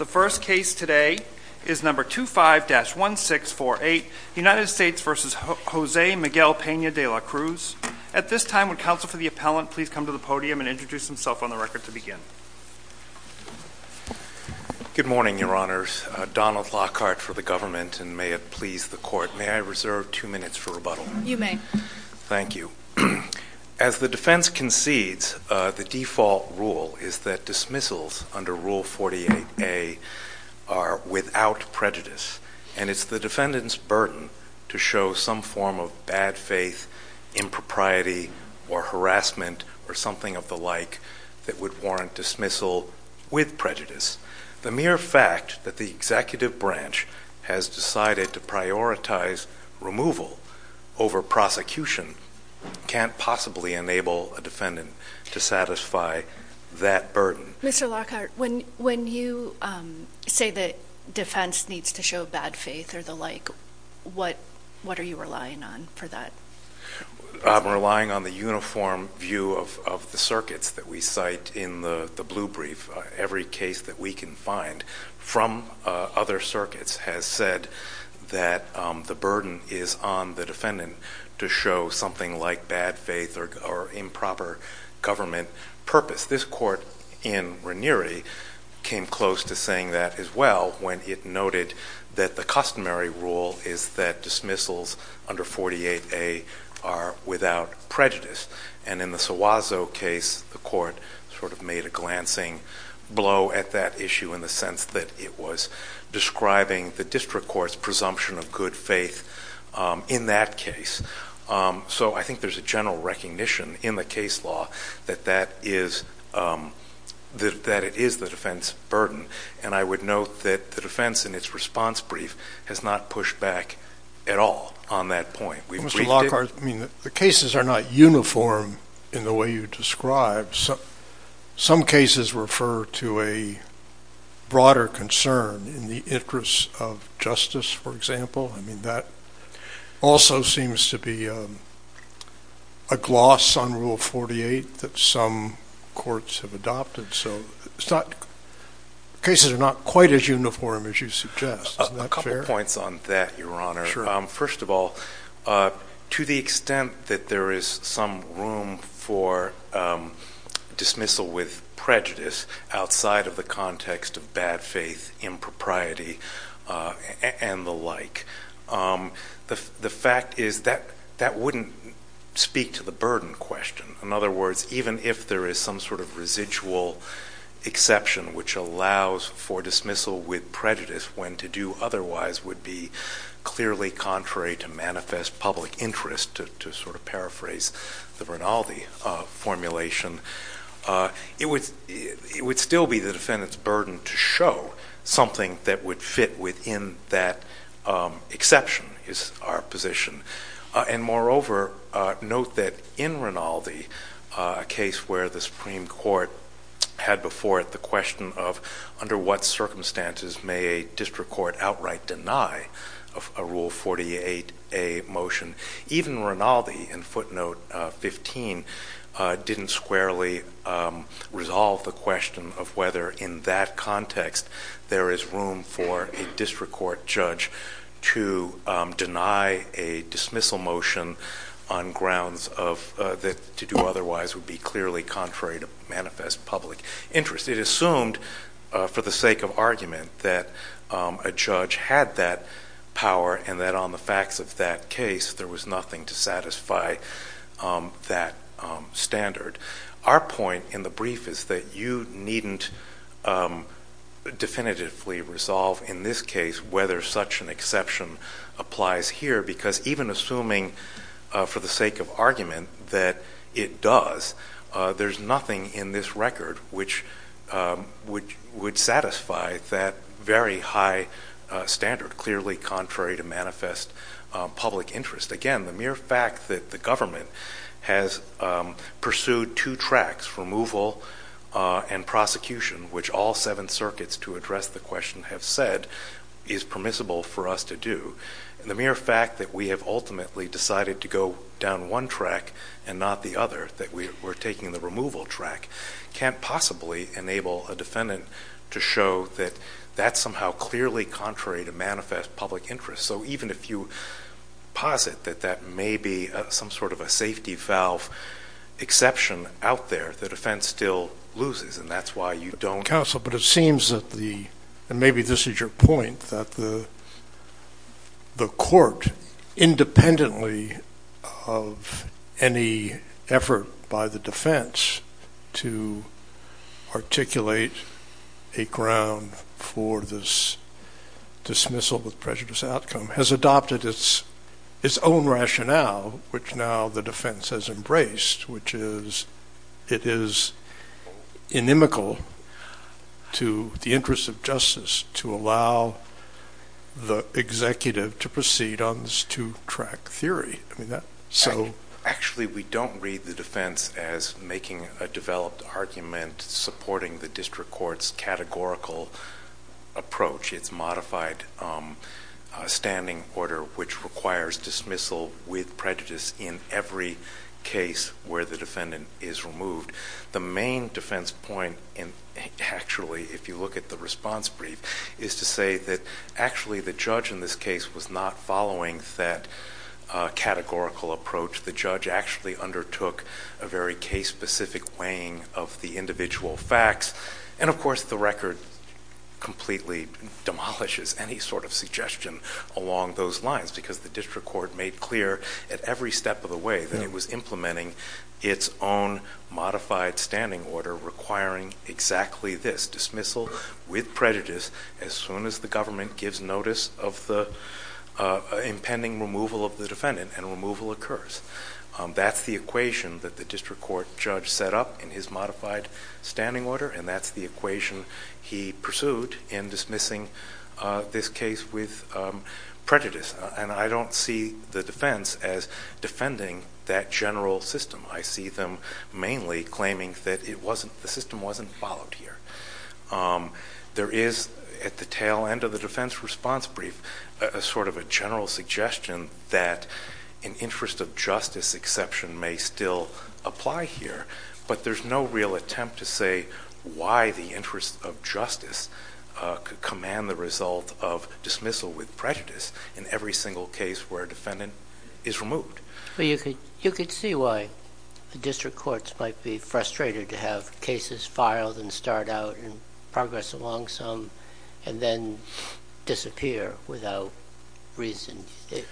The first case today is number 25-1648, United States v. Jose Miguel Pena de la Cruz. At this time, would counsel for the appellant please come to the podium and introduce himself on the record to begin? Good morning, your honors. Donald Lockhart for the government, and may it please the court. May I reserve two minutes for rebuttal? You may. Thank you. As the defense concedes, the default rule is that dismissals under Rule 48A are without prejudice, and it's the defendant's burden to show some form of bad faith, impropriety, or harassment or something of the like that would warrant dismissal with prejudice. The prosecution can't possibly enable a defendant to satisfy that burden. Mr. Lockhart, when you say that defense needs to show bad faith or the like, what are you relying on for that? I'm relying on the uniform view of the circuits that we cite in the blue brief. Every case that we can find from other circuits has said that the burden is on the defendant to show something like bad faith or improper government purpose. This court in Ranieri came close to saying that as well when it noted that the customary rule is that dismissals under 48A are without prejudice. And in the Suazo case, the court sort of made a glancing blow at that issue in the sense that it was describing the district court's presumption of good faith in that case. So I think there's a general recognition in the case law that it is the defense's burden. And I would note that the defense in its response brief has not pushed back at all on that point. Mr. Lockhart, the cases are not uniform in the way you describe. Some cases refer to a broader concern in the interest of justice, for example. That also seems to be a gloss on Rule 48 that some courts have adopted. Cases are not quite as uniform as you suggest. A couple points on that, Your Honor. First of all, to the extent that there is some room for dismissal with prejudice outside of the context of bad faith, impropriety, and the like, the fact is that that wouldn't speak to the burden question. In other words, even if there is some sort of residual exception which allows for dismissal with prejudice when to do otherwise would be clearly contrary to manifest public interest, to sort of paraphrase the Rinaldi formulation, it would still be the defendant's burden to show something that would fit within that exception is our position. And moreover, note that in Rinaldi, a case where the Supreme Court had before it the question of, under what circumstances may a district court outright deny a Rule 48A motion. Even Rinaldi in footnote 15 didn't squarely resolve the question of whether in that context there is room for a district court judge to deny a dismissal motion on grounds that to do otherwise would be clearly contrary to manifest public interest. It assumed for the sake of argument that a judge had that power and that on the facts of that case there was nothing to satisfy that standard. Our point in the brief is that you needn't definitively resolve in this case whether such an exception applies here because even assuming for the sake of argument that it does, there's nothing in this record which would satisfy that very high standard, clearly contrary to manifest public interest. Again, the mere fact that the government has pursued two tracks, removal and prosecution, which all seven circuits to address the question have said is permissible for us to do, and the mere fact that we have ultimately decided to go down one track and not the other, that we're taking the removal track, can't possibly enable a defendant to show that that's somehow clearly contrary to manifest public interest. So even if you posit that that may be some sort of a safety valve exception out there, the defense still loses, and that's why you don't counsel, but it seems that the, and of any effort by the defense to articulate a ground for this dismissal with prejudice outcome has adopted its own rationale, which now the defense has embraced, which is it is inimical to the interest of justice to allow the executive to proceed on this two track basis. Actually, we don't read the defense as making a developed argument supporting the district court's categorical approach. It's modified standing order, which requires dismissal with prejudice in every case where the defendant is removed. The main defense point, and actually if you look at the response brief, is to say that actually the judge in this case was not following that categorical approach. The judge actually undertook a very case specific weighing of the individual facts, and of course the record completely demolishes any sort of suggestion along those lines, because the district court made clear at every step of the way that it was implementing its own modified standing order requiring exactly this, dismissal with prejudice as soon as the government gives notice of the impending removal of the defendant and removal occurs. That's the equation that the district court judge set up in his modified standing order, and that's the equation he pursued in dismissing this case with prejudice. And I don't see the defense as defending that general system. I see them mainly claiming that the system wasn't followed here. There is at the tail end of the defense response brief a sort of a general suggestion that an interest of justice exception may still apply here, but there's no real attempt to say why the interest of justice could command the result of dismissal with prejudice in every single case where a defendant is removed. You could see why the district courts might be frustrated to have cases filed and start out and progress along some and then disappear without reason.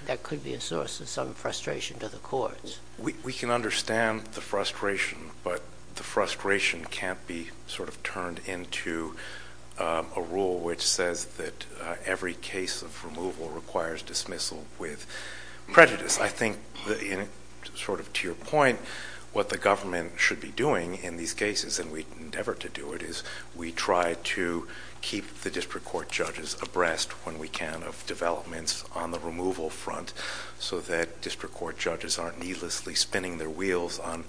That could be a source of some frustration to the courts. We can understand the frustration, but the frustration can't be sort of turned into a rule which says that every case of removal requires dismissal with prejudice. I think sort of to your point, what the government should be doing in these cases, and we endeavor to do it, is we try to keep the district court judges abreast when we can of developments on the removal front so that district court judges aren't needlessly spinning their wheels on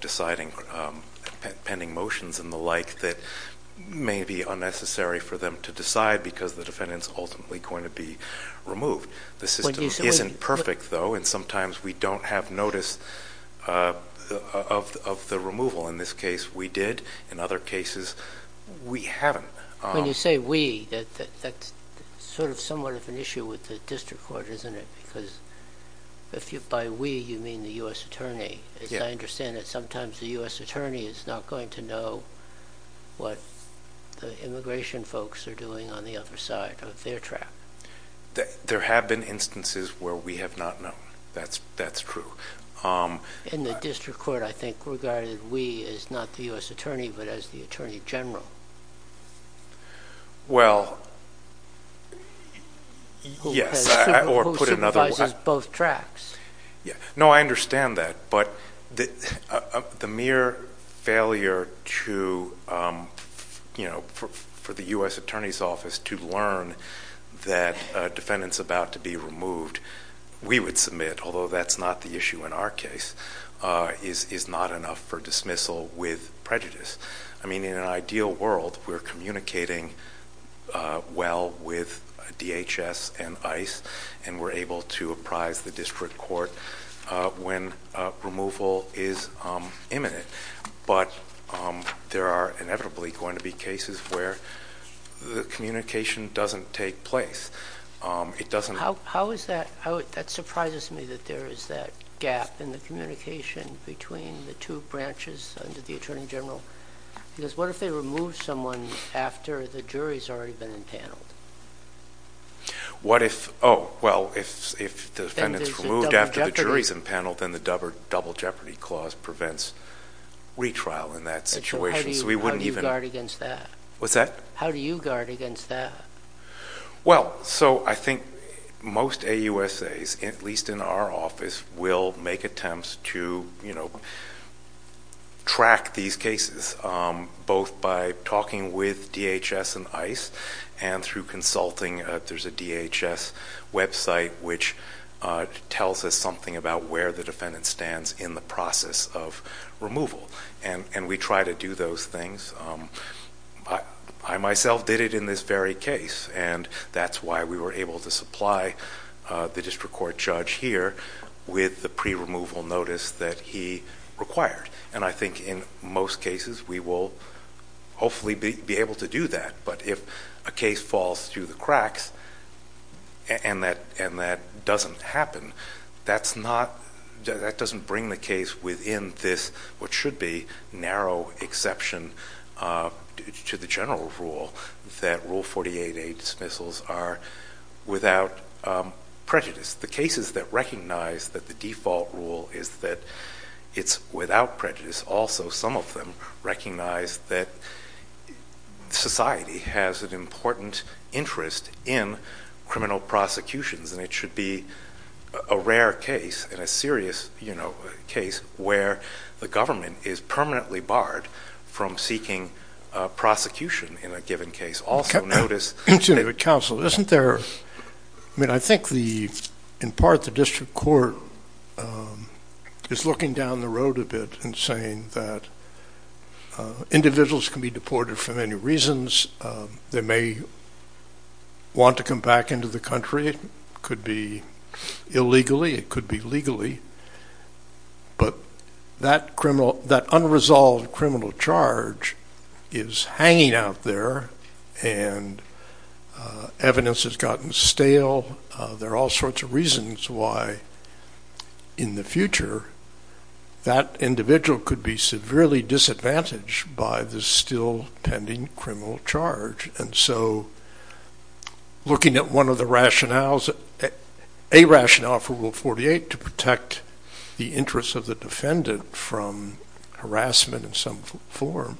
deciding, pending motions and the like that may be unnecessary for them to decide because the defendant's ultimately going to be removed. The system isn't perfect, though, and sometimes we don't have notice of the removal. In this case, we did. In other cases, we haven't. When you say we, that's sort of somewhat of an issue with the district court, isn't it? Because by we, you mean the U.S. Attorney. As I understand it, sometimes the U.S. Attorney is not going to know what the immigration folks are doing on the other side of their track. There have been instances where we have not known. That's true. In the district court, I think, regarded we as not the U.S. Attorney but as the Attorney General. Well, yes. Who supervises both tracks. No, I understand that, but the mere failure for the U.S. Attorney's Office to learn that a defendant's about to be removed, we would submit, although that's not the issue in our case, is not enough for dismissal with prejudice. I mean, in an ideal world, we're communicating well with DHS and ICE, and we're able to apprise the district court when removal is imminent, but there are inevitably going to be cases where the communication doesn't take place. How is that? That surprises me that there is that gap in the communication between the two branches under the Attorney General. Because what if they remove someone after the jury's already been impaneled? What if, oh, well, if the defendant's removed after the jury's impaneled, then the double jeopardy clause prevents retrial in that situation, so we wouldn't even... How do you guard against that? What's that? How do you guard against that? Well, so I think most AUSAs, at least in our office, will make attempts to track these cases, both by talking with DHS and ICE, and through consulting. There's a DHS website which tells us something about where the defendant stands in the process of removal, and we try to do those things. I myself did it in this very case, and that's why we were able to supply the district court judge here with the pre-removal notice that he required. And I think in most cases, we will hopefully be able to do that, but if a case falls through the cracks, and that doesn't happen, that doesn't bring the case within this, what should be narrow exception to the general rule, that Rule 48A dismissals are without prejudice. The cases that recognize that the default rule is that it's without prejudice, also some of them recognize that society has an important interest in criminal prosecutions, and it should be a rare case, and a serious case, where the government is permanently barred from seeking prosecution in a given case. Also notice that... Counsel, isn't there, I mean, I think in part the district court is looking down the road a bit and saying that individuals can be deported for many reasons. They may want to come back into the country. It could be illegally. It could be legally, but that unresolved criminal charge is hanging out there, and evidence has gotten stale. There are all sorts of reasons why in the future that individual could be severely disadvantaged by the still pending criminal charge, and so looking at one of the rationales, a rationale for Rule 48 to protect the interests of the defendant from harassment in some form,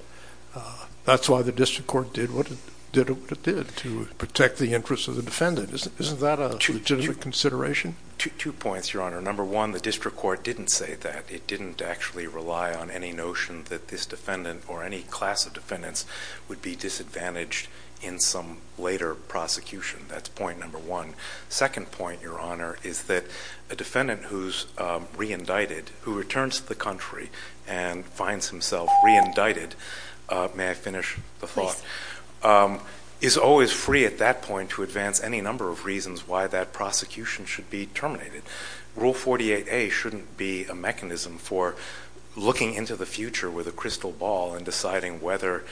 that's why the district court did what it did to protect the interests of the defendant. Isn't that a legitimate consideration? Two points, Your Honor. Number one, the district court didn't say that. It didn't actually rely on any notion that this defendant or any class of defendants would be disadvantaged in some later prosecution. That's point number one. Second point, Your Honor, is that a defendant who's re-indicted, who returns to the country and finds himself re-indicted, may I finish the thought, is always free at that point to advance any number of reasons why that prosecution should be terminated. Rule 48A shouldn't be a mechanism for looking into the future with a crystal ball and deciding whether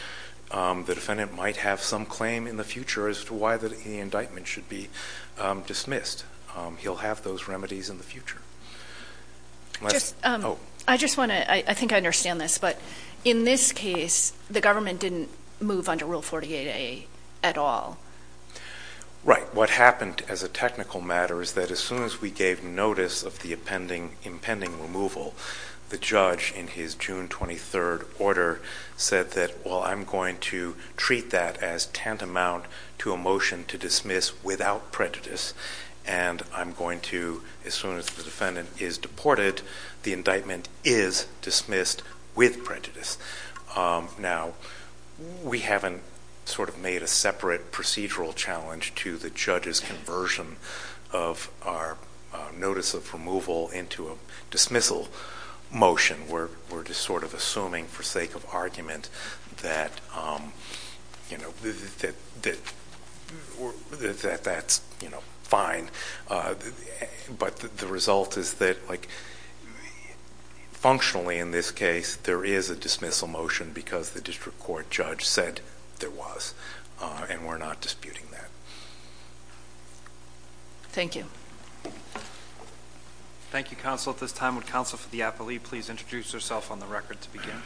the defendant might have some claim in the future as to why the indictment should be dismissed. He'll have those remedies in the future. I just want to, I think I understand this, but in this case, the government didn't move under Rule 48A at all. Right. What happened as a technical matter is that as soon as we gave notice of the impending removal, the judge in his June 23rd order said that, well, I'm going to treat that as tantamount to a motion to dismiss without prejudice, and I'm going to, as soon as the defendant is deported, the indictment is dismissed with prejudice. Now, we haven't sort of made a separate procedural challenge to the judge's conversion of our notice of removal into a dismissal motion. We're just sort of assuming for sake of argument that that's fine, but the result is that functionally in this case, there is a dismissal motion because the district court judge said there was, and we're not disputing that. Thank you. Thank you, Counsel. At this time, would Counsel for the Appellee please introduce herself on the record to begin?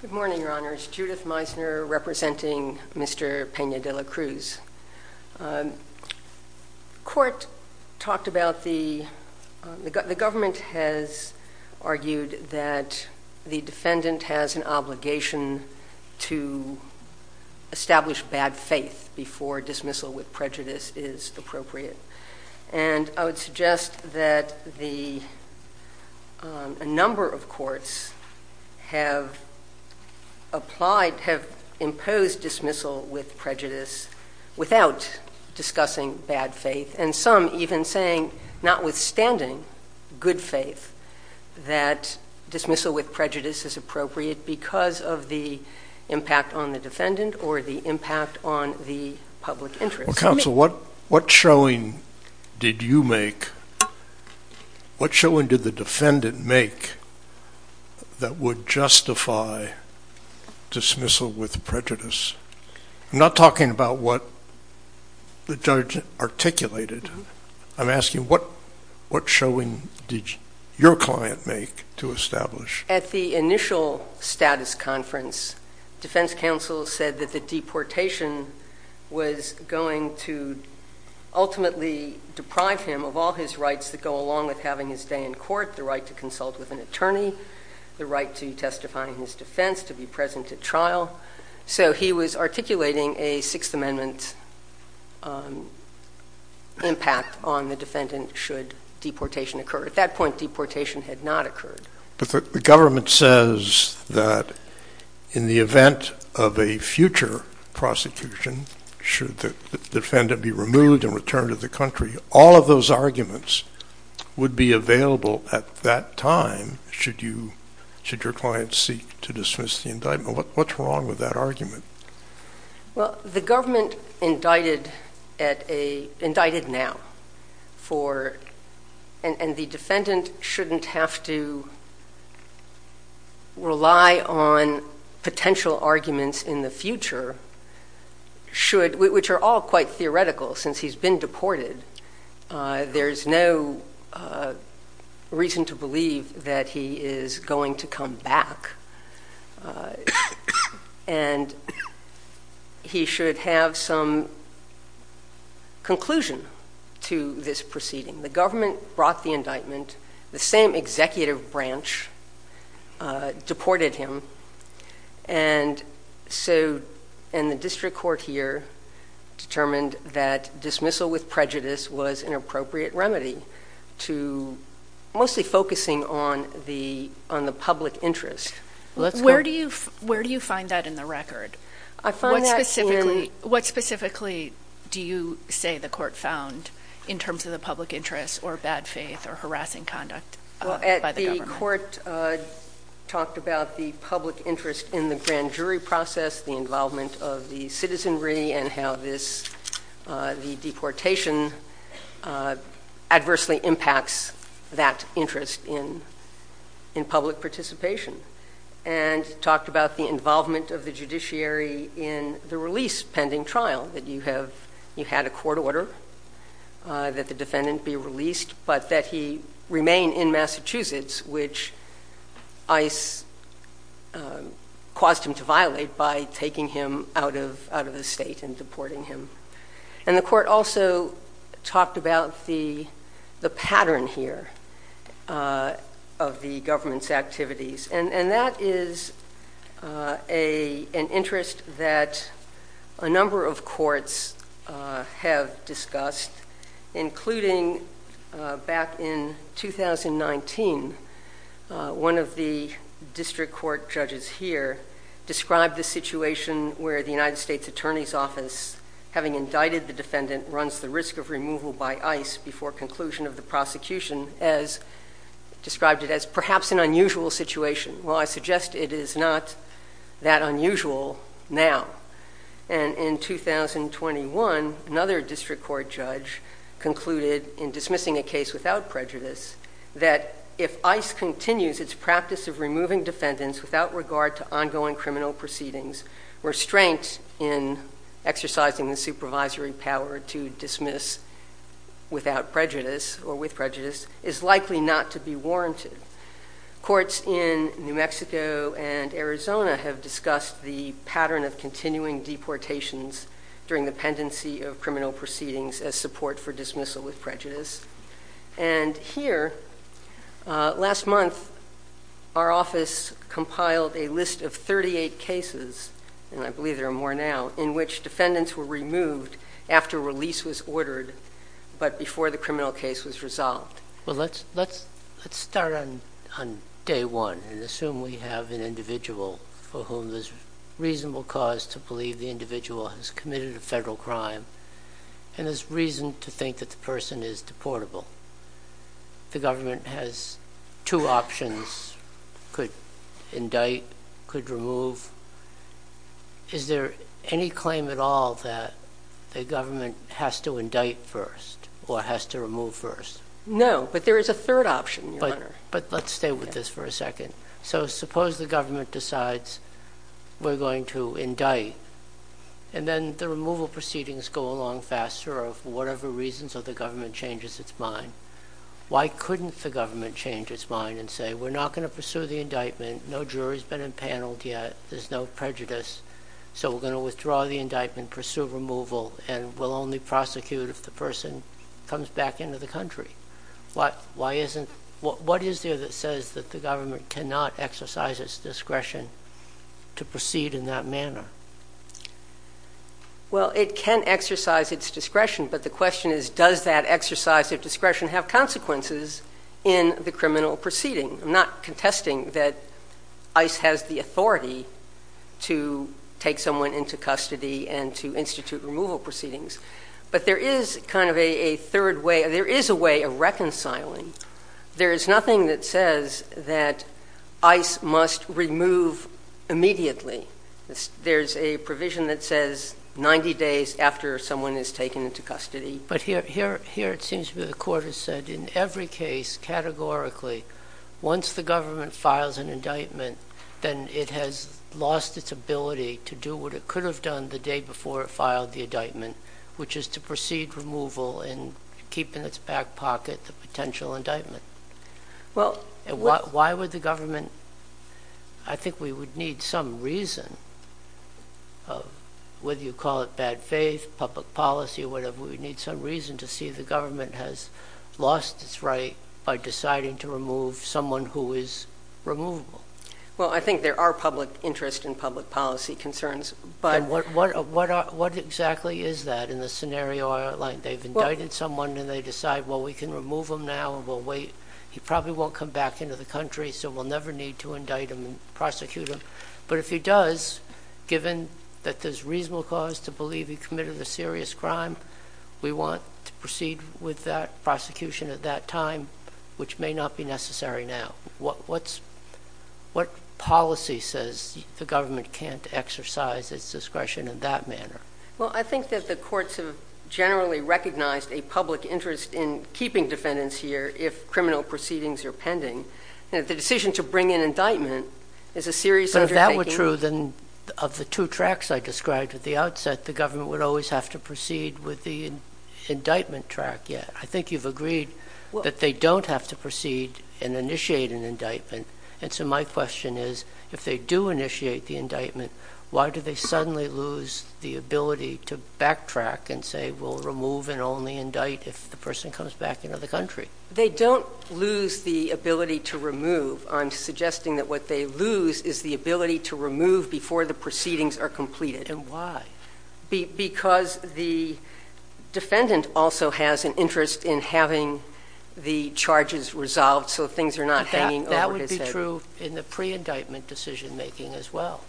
Good morning, Your Honors. Judith Meisner representing Mr. Peña de la Cruz. Court talked about the, the government has argued that the defendant has an obligation to establish bad faith before dismissal with prejudice is appropriate, and I would suggest that the, a number of courts have applied, have imposed dismissal with prejudice without discussing bad faith, and some even saying, notwithstanding good faith, that dismissal with prejudice is appropriate because of the impact on the defendant or the impact on the public interest. Well, Counsel, what, what showing did you make, what showing did the defendant make that would justify dismissal with prejudice? I'm not talking about what the judge, the judge articulated. I'm asking what, what showing did your client make to establish? At the initial status conference, defense counsel said that the deportation was going to ultimately deprive him of all his rights that go along with having his day in court, the right to consult with an attorney, the right to testify in his defense, to be present at trial. So he was articulating a Sixth Amendment impact on the defendant should deportation occur. At that point, deportation had not occurred. But the government says that in the event of a future prosecution, should the defendant be removed and returned to the country, all of those arguments would be available at that time, should you, should your client seek to dismiss the indictment? What, what's wrong with that argument? Well, the government indicted at a, indicted now for, and the defendant shouldn't have to rely on potential arguments in the future, should, which are all quite theoretical since he's been deported. There's no reason to believe that he is going to come back. There's no reason to believe that he's going to come back. And he should have some conclusion to this proceeding. The government brought the indictment, the same executive branch deported him. And so, and the district court here determined that dismissal with prejudice was an appropriate remedy to mostly focusing on the, on the public interest. Where do you, where do you find that in the record? I find that in... What specifically do you say the court found in terms of the public interest or bad faith or harassing conduct by the government? Well, the court talked about the public interest in the grand jury process, the involvement of the citizenry and how this, the deportation adversely impacts that interest in, in public participation and talked about the involvement of the judiciary in the release pending trial that you have, you had a court order that the defendant be released, but that he remained in Massachusetts, which ICE caused him to violate by taking him out of, out of the state and deporting him. And the court also talked about the, the pattern here of the government's activities. And, and that is a, an interest that a number of courts have discussed, including back in 2019 one of the district court judges here described the situation where the United States attorney's office having indicted the defendant runs the risk of removal by ice before conclusion of the prosecution as described it as perhaps an unusual situation. Well, I suggest it is not that unusual now. And in 2021 another district court judge concluded in dismissing a case without prejudice that if ICE continues its practice of removing defendants without regard to ongoing criminal proceedings, restraint in exercising the supervisory power to dismiss without prejudice or with prejudice is likely not to be warranted. Courts in New Mexico and Arizona have discussed the pattern of continuing deportations during the pendency of criminal proceedings as support for dismissal with prejudice. And here last month our office compiled a list of 38 cases, and I believe there are more now in which defendants were removed after release was ordered, but before the criminal case was resolved. Well, let's, let's, let's start on, on day one and assume we have an individual for whom there's reasonable cause to believe the individual has committed a federal crime and there's reason to think that the person is deportable. The government has two options, could indict, could remove. Is there any claim at all that the government has to indict first or has to remove first? No, but there is a third option, Your Honor. But let's stay with this for a second. So suppose the government decides we're going to indict, and then the removal proceedings go along faster or for whatever reasons or the government changes its mind. Why couldn't the government change its mind and say, we're not going to pursue the indictment, no jury's been impaneled yet, there's no prejudice, so we're going to withdraw the indictment, pursue removal, and we'll only prosecute if the person comes back into the country. Why, why isn't, what, what is there that says that the government cannot exercise its discretion to proceed in that manner? Well, it can exercise its discretion, but the question is, does that exercise of discretion have consequences in the criminal proceeding? I'm not contesting that ICE has the authority to take someone into custody and to institute removal proceedings, but there is kind of a third way, there is a way of reconciling. There is nothing that says that ICE must remove immediately. There's a provision that says 90 days after someone is taken into custody. But here, here, here it seems to me the court has said in every case, categorically, once the government files an indictment, then it has lost its ability to do what it could have done the day before it filed the indictment, which is to proceed removal and keep in its back pocket the potential indictment. Well, Why would the government, I think we would need some reason, whether you call it bad faith, public policy, whatever, we need some reason to see the government has lost its right by deciding to remove someone who is removable. Well I think there are public interest and public policy concerns, but And what, what, what exactly is that in the scenario I outlined? They've indicted someone and they decide, well, we can remove him now and we'll wait. He probably won't come back into the country, so we'll never need to indict him and prosecute him. But if he does, given that there's reasonable cause to believe he committed a serious crime, we want to proceed with that prosecution at that time, which may not be necessary now. What, what's, what policy says the government can't exercise its discretion in that manner? Well I think that the courts have generally recognized a public interest in keeping defendants here if criminal proceedings are pending. And if the decision to bring in indictment is a serious undertaking But if that were true, then of the two tracts I described at the outset, the government would always have to proceed with the indictment tract. I think you've agreed that they don't have to proceed and initiate an indictment. And so my question is, if they do initiate the indictment, why do they suddenly lose the ability to backtrack and say, we'll remove and only indict if the person comes back into the country? They don't lose the ability to remove. I'm suggesting that what they lose is the ability to remove before the proceedings are completed. And why? Because the defendant also has an interest in having the charges resolved so things are not hanging over his head. That would be true in the pre-indictment decision making as well.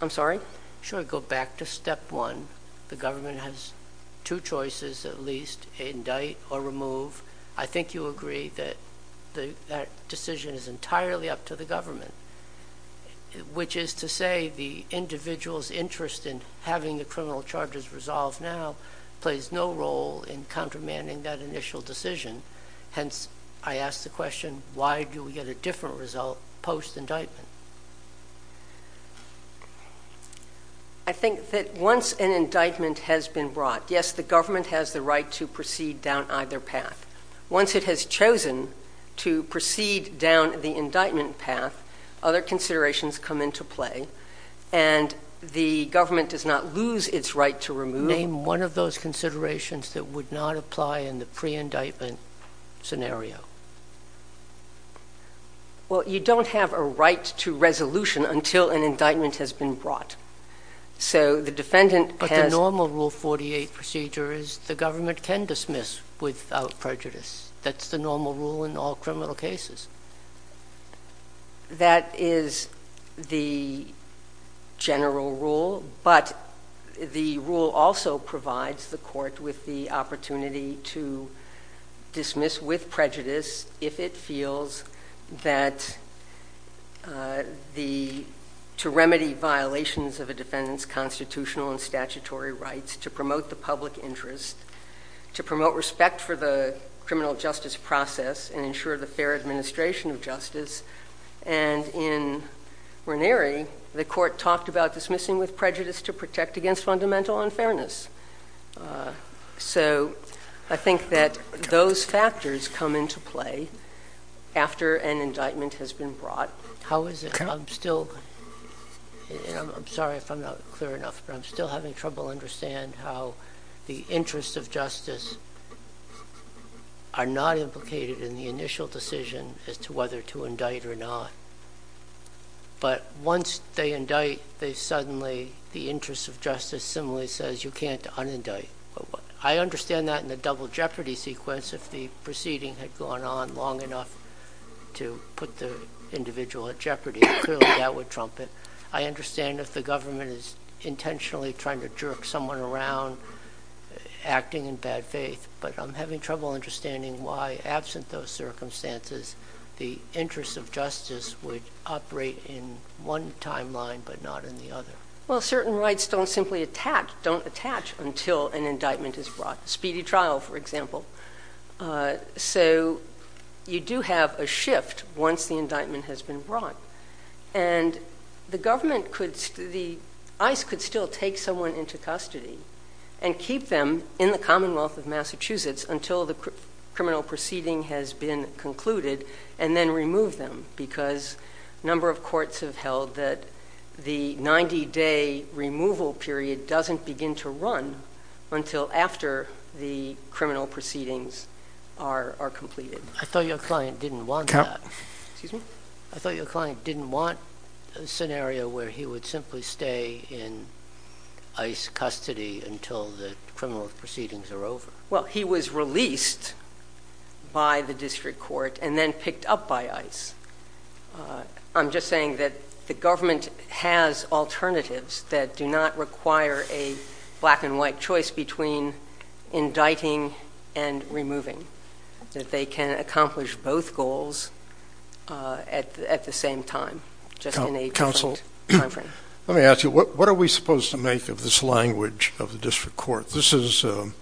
I'm sorry? Sure, go back to step one. The government has two choices at least, indict or remove. I think you agree that that decision is entirely up to the government, which is to say the individual's interest in having the criminal charges resolved now plays no role in countermanding that initial decision. Hence, I ask the question, why do we get a different result post-indictment? I think that once an indictment has been brought, yes, the government has the right to proceed down either path. Once it has chosen to proceed down the indictment path, other considerations come into play, and the government does not lose its right to remove. Name one of those considerations that would not apply in the pre-indictment scenario. Well, you don't have a right to resolution until an indictment has been brought. So the defendant has But the normal Rule 48 procedure is the government can dismiss without prejudice. That's the normal rule in all criminal cases. That is the general rule, but the rule also provides the court with the opportunity to dismiss with prejudice if it feels that to remedy violations of a defendant's constitutional and statutory rights, to promote the public interest, to promote respect for the criminal justice process, and ensure the fair administration of justice. And in Ranieri, the court talked about dismissing with prejudice to protect against fundamental unfairness. So I think that those factors come into play after an indictment has been brought. How is it, I'm still, I'm sorry if I'm not clear enough, but I'm still having trouble understand how the interests of justice are not implicated in the initial decision as to whether to indict or not. But once they indict, they suddenly, the interest of justice similarly says you can't unindict. I understand that in the double jeopardy sequence, if the proceeding had gone on long enough to put the individual at jeopardy, clearly that would trump it. I understand if the government is intentionally trying to jerk someone around acting in bad faith, but I'm having trouble understanding why absent those circumstances, the interest of justice would operate in one timeline but not in the other. Well certain rights don't simply attack, don't attach until an indictment is brought. Speedy trial, for example. So you do have a shift once the indictment has been brought. And the government could, the ICE could still take someone into custody and keep them in the Commonwealth of Massachusetts until the criminal proceeding has been concluded and then remove them because a number of courts have held that the 90 day removal period doesn't begin to run until after the criminal proceedings are completed. I thought your client didn't want that. I thought your client didn't want a scenario where he would simply stay in ICE custody until the criminal proceedings are over. Well he was released by the district court and then picked up by ICE. I'm just saying that the government has alternatives that do not require a black and white choice between indicting and removing. That they can accomplish both goals at the same time, just in a different time frame. Let me ask you, what are we supposed to make of this language of the district court? This is, the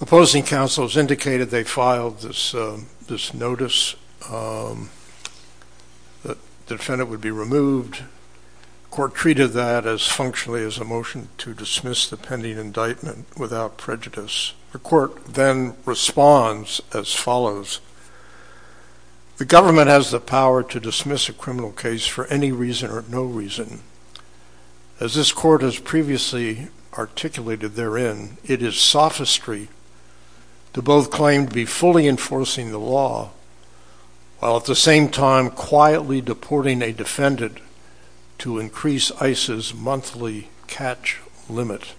opposing counsel has indicated they filed this notice that the defendant would be removed. The court treated that as functionally as a motion to dismiss the pending indictment without prejudice. The court then responds as follows, the government has the power to dismiss a criminal case for any reason or no reason. As this court has previously articulated therein, it is sophistry to both claim to be fully enforcing the law while at the same time quietly deporting a defendant to increase ICE's monthly catch limit.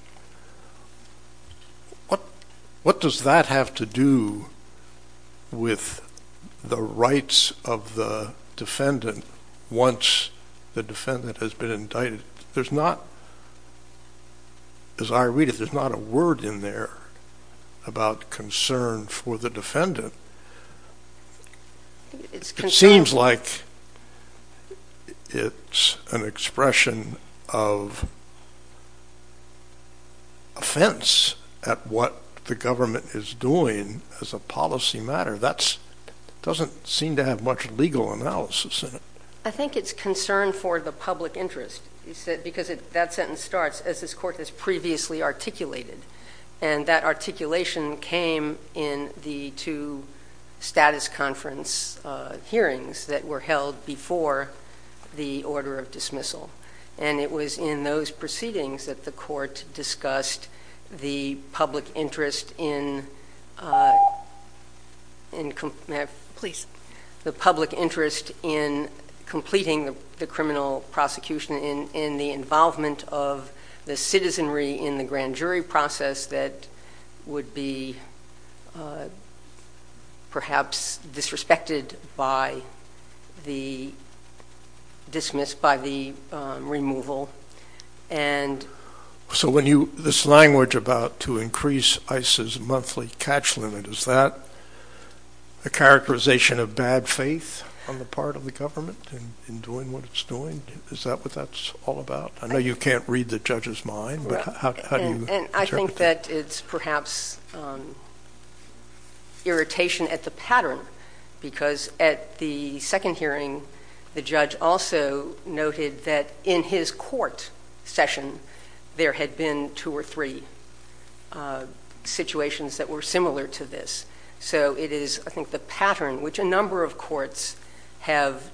What does that have to do with the rights of the defendant once the defendant has been indicted? There's not, as I read it, there's not a word in there about concern for the defendant. It seems like it's an expression of offense at what the government is doing as a policy matter. That doesn't seem to have much legal analysis in it. I think it's concern for the public interest, because that sentence starts, as this court has previously articulated. And that articulation came in the two status conference hearings that were held before the order of dismissal. And it was in those proceedings that the court was completing the criminal prosecution in the involvement of the citizenry in the grand jury process that would be perhaps disrespected by the dismiss, by the removal. So when you, this language about to increase ICE's monthly catch limit, is that a characterization of bad faith on the part of the government in doing what it's doing? Is that what that's all about? I know you can't read the judge's mind, but how do you interpret it? And I think that it's perhaps irritation at the pattern, because at the second hearing the judge also noted that in his court session there had been two or three situations that were similar to this. So it is I think the pattern, which a number of courts have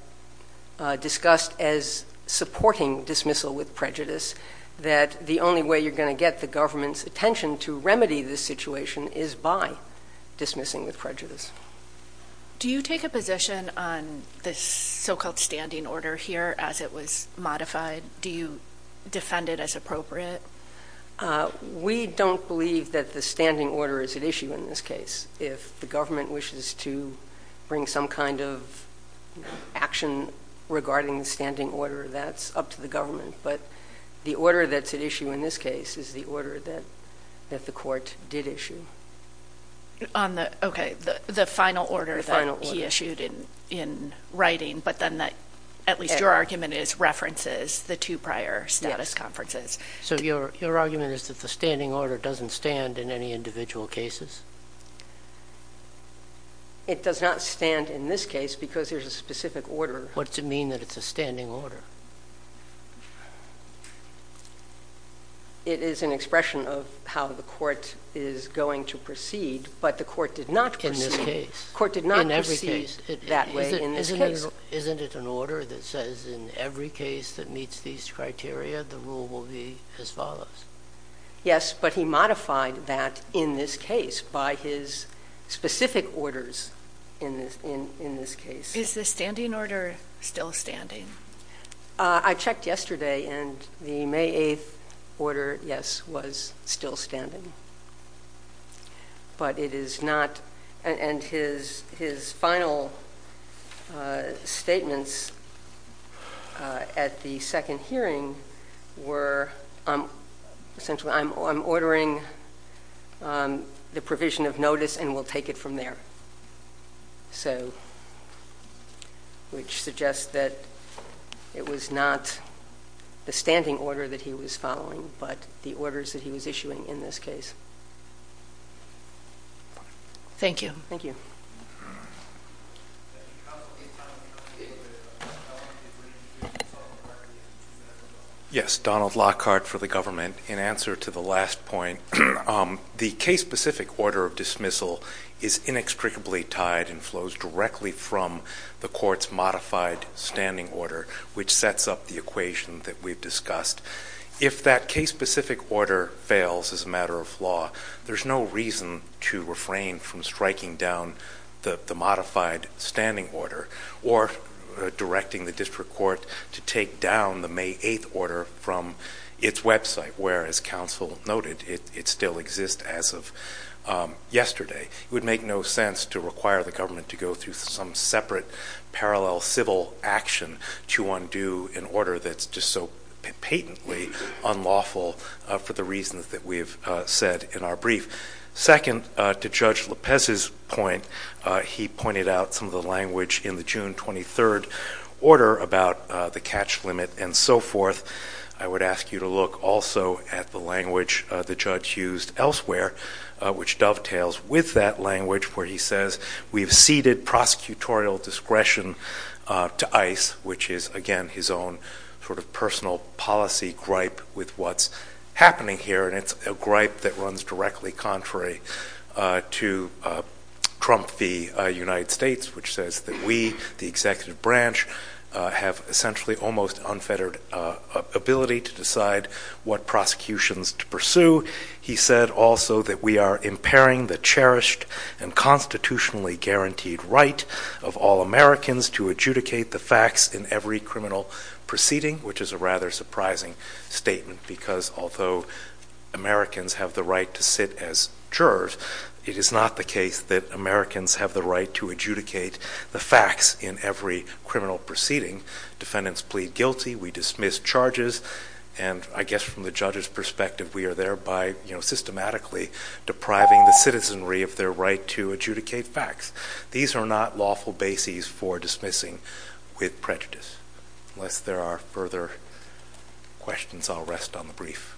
discussed as supporting dismissal with prejudice, that the only way you're going to get the government's attention to remedy this situation is by dismissing with prejudice. Do you take a position on this so-called standing order here as it was modified? Do you defend it as appropriate? We don't believe that the standing order is at issue in this case. If the government wishes to bring some kind of action regarding the standing order, that's up to the government. But the order that's at issue in this case is the order that the court did issue. On the, okay, the final order that he issued in writing, but then that, at least your argument is references the two prior status conferences. So your argument is that the standing order doesn't stand in any individual cases? It does not stand in this case because there's a specific order. What's it mean that it's a standing order? It is an expression of how the court is going to proceed, but the court did not proceed that way in this case. In every case. Isn't it an order that says in every case that meets these criteria the rule will be as follows? Yes, but he modified that in this case by his specific orders in this case. Is the standing order still standing? I checked yesterday and the May 8th order, yes, was still standing. But it is not, and his final statements at the second hearing were that the standing order was still standing. And they were, essentially, I'm ordering the provision of notice and we'll take it from there. So, which suggests that it was not the standing order that he was following, but the orders that he was issuing in this case. Thank you. Yes, Donald Lockhart for the government. In answer to the last point, the case-specific order of dismissal is inextricably tied and flows directly from the court's modified standing order, which sets up the equation that we've discussed. If that case-specific order fails as a matter of law, there's no reason to refrain from striking down the modified standing order or directing the district court to take down the May 8th order from its website, where as counsel noted, it still exists as of yesterday. It would make no sense to require the government to go through some separate parallel civil action to undo an order that's just so patently unlawful for the reasons that we've said in our brief. Second, to Judge Lopez's point, he pointed out some of the language in the June 23rd order about the catch limit and so forth. I would ask you to look also at the language the judge used elsewhere, which dovetails with that language where he says, we've ceded gripe with what's happening here, and it's a gripe that runs directly contrary to Trump v. United States, which says that we, the executive branch, have essentially almost unfettered ability to decide what prosecutions to pursue. He said also that we are impairing the cherished and constitutionally guaranteed right of all Americans to adjudicate the facts in every criminal proceeding, which is a rather surprising statement, because although Americans have the right to sit as jurors, it is not the case that Americans have the right to adjudicate the facts in every criminal proceeding. Defendants plead guilty, we dismiss charges, and I guess from the judge's perspective, we are thereby systematically depriving the citizenry of their right to adjudicate facts. These are not lawful bases for dismissing with prejudice. Unless there are further questions, I'll rest on the brief.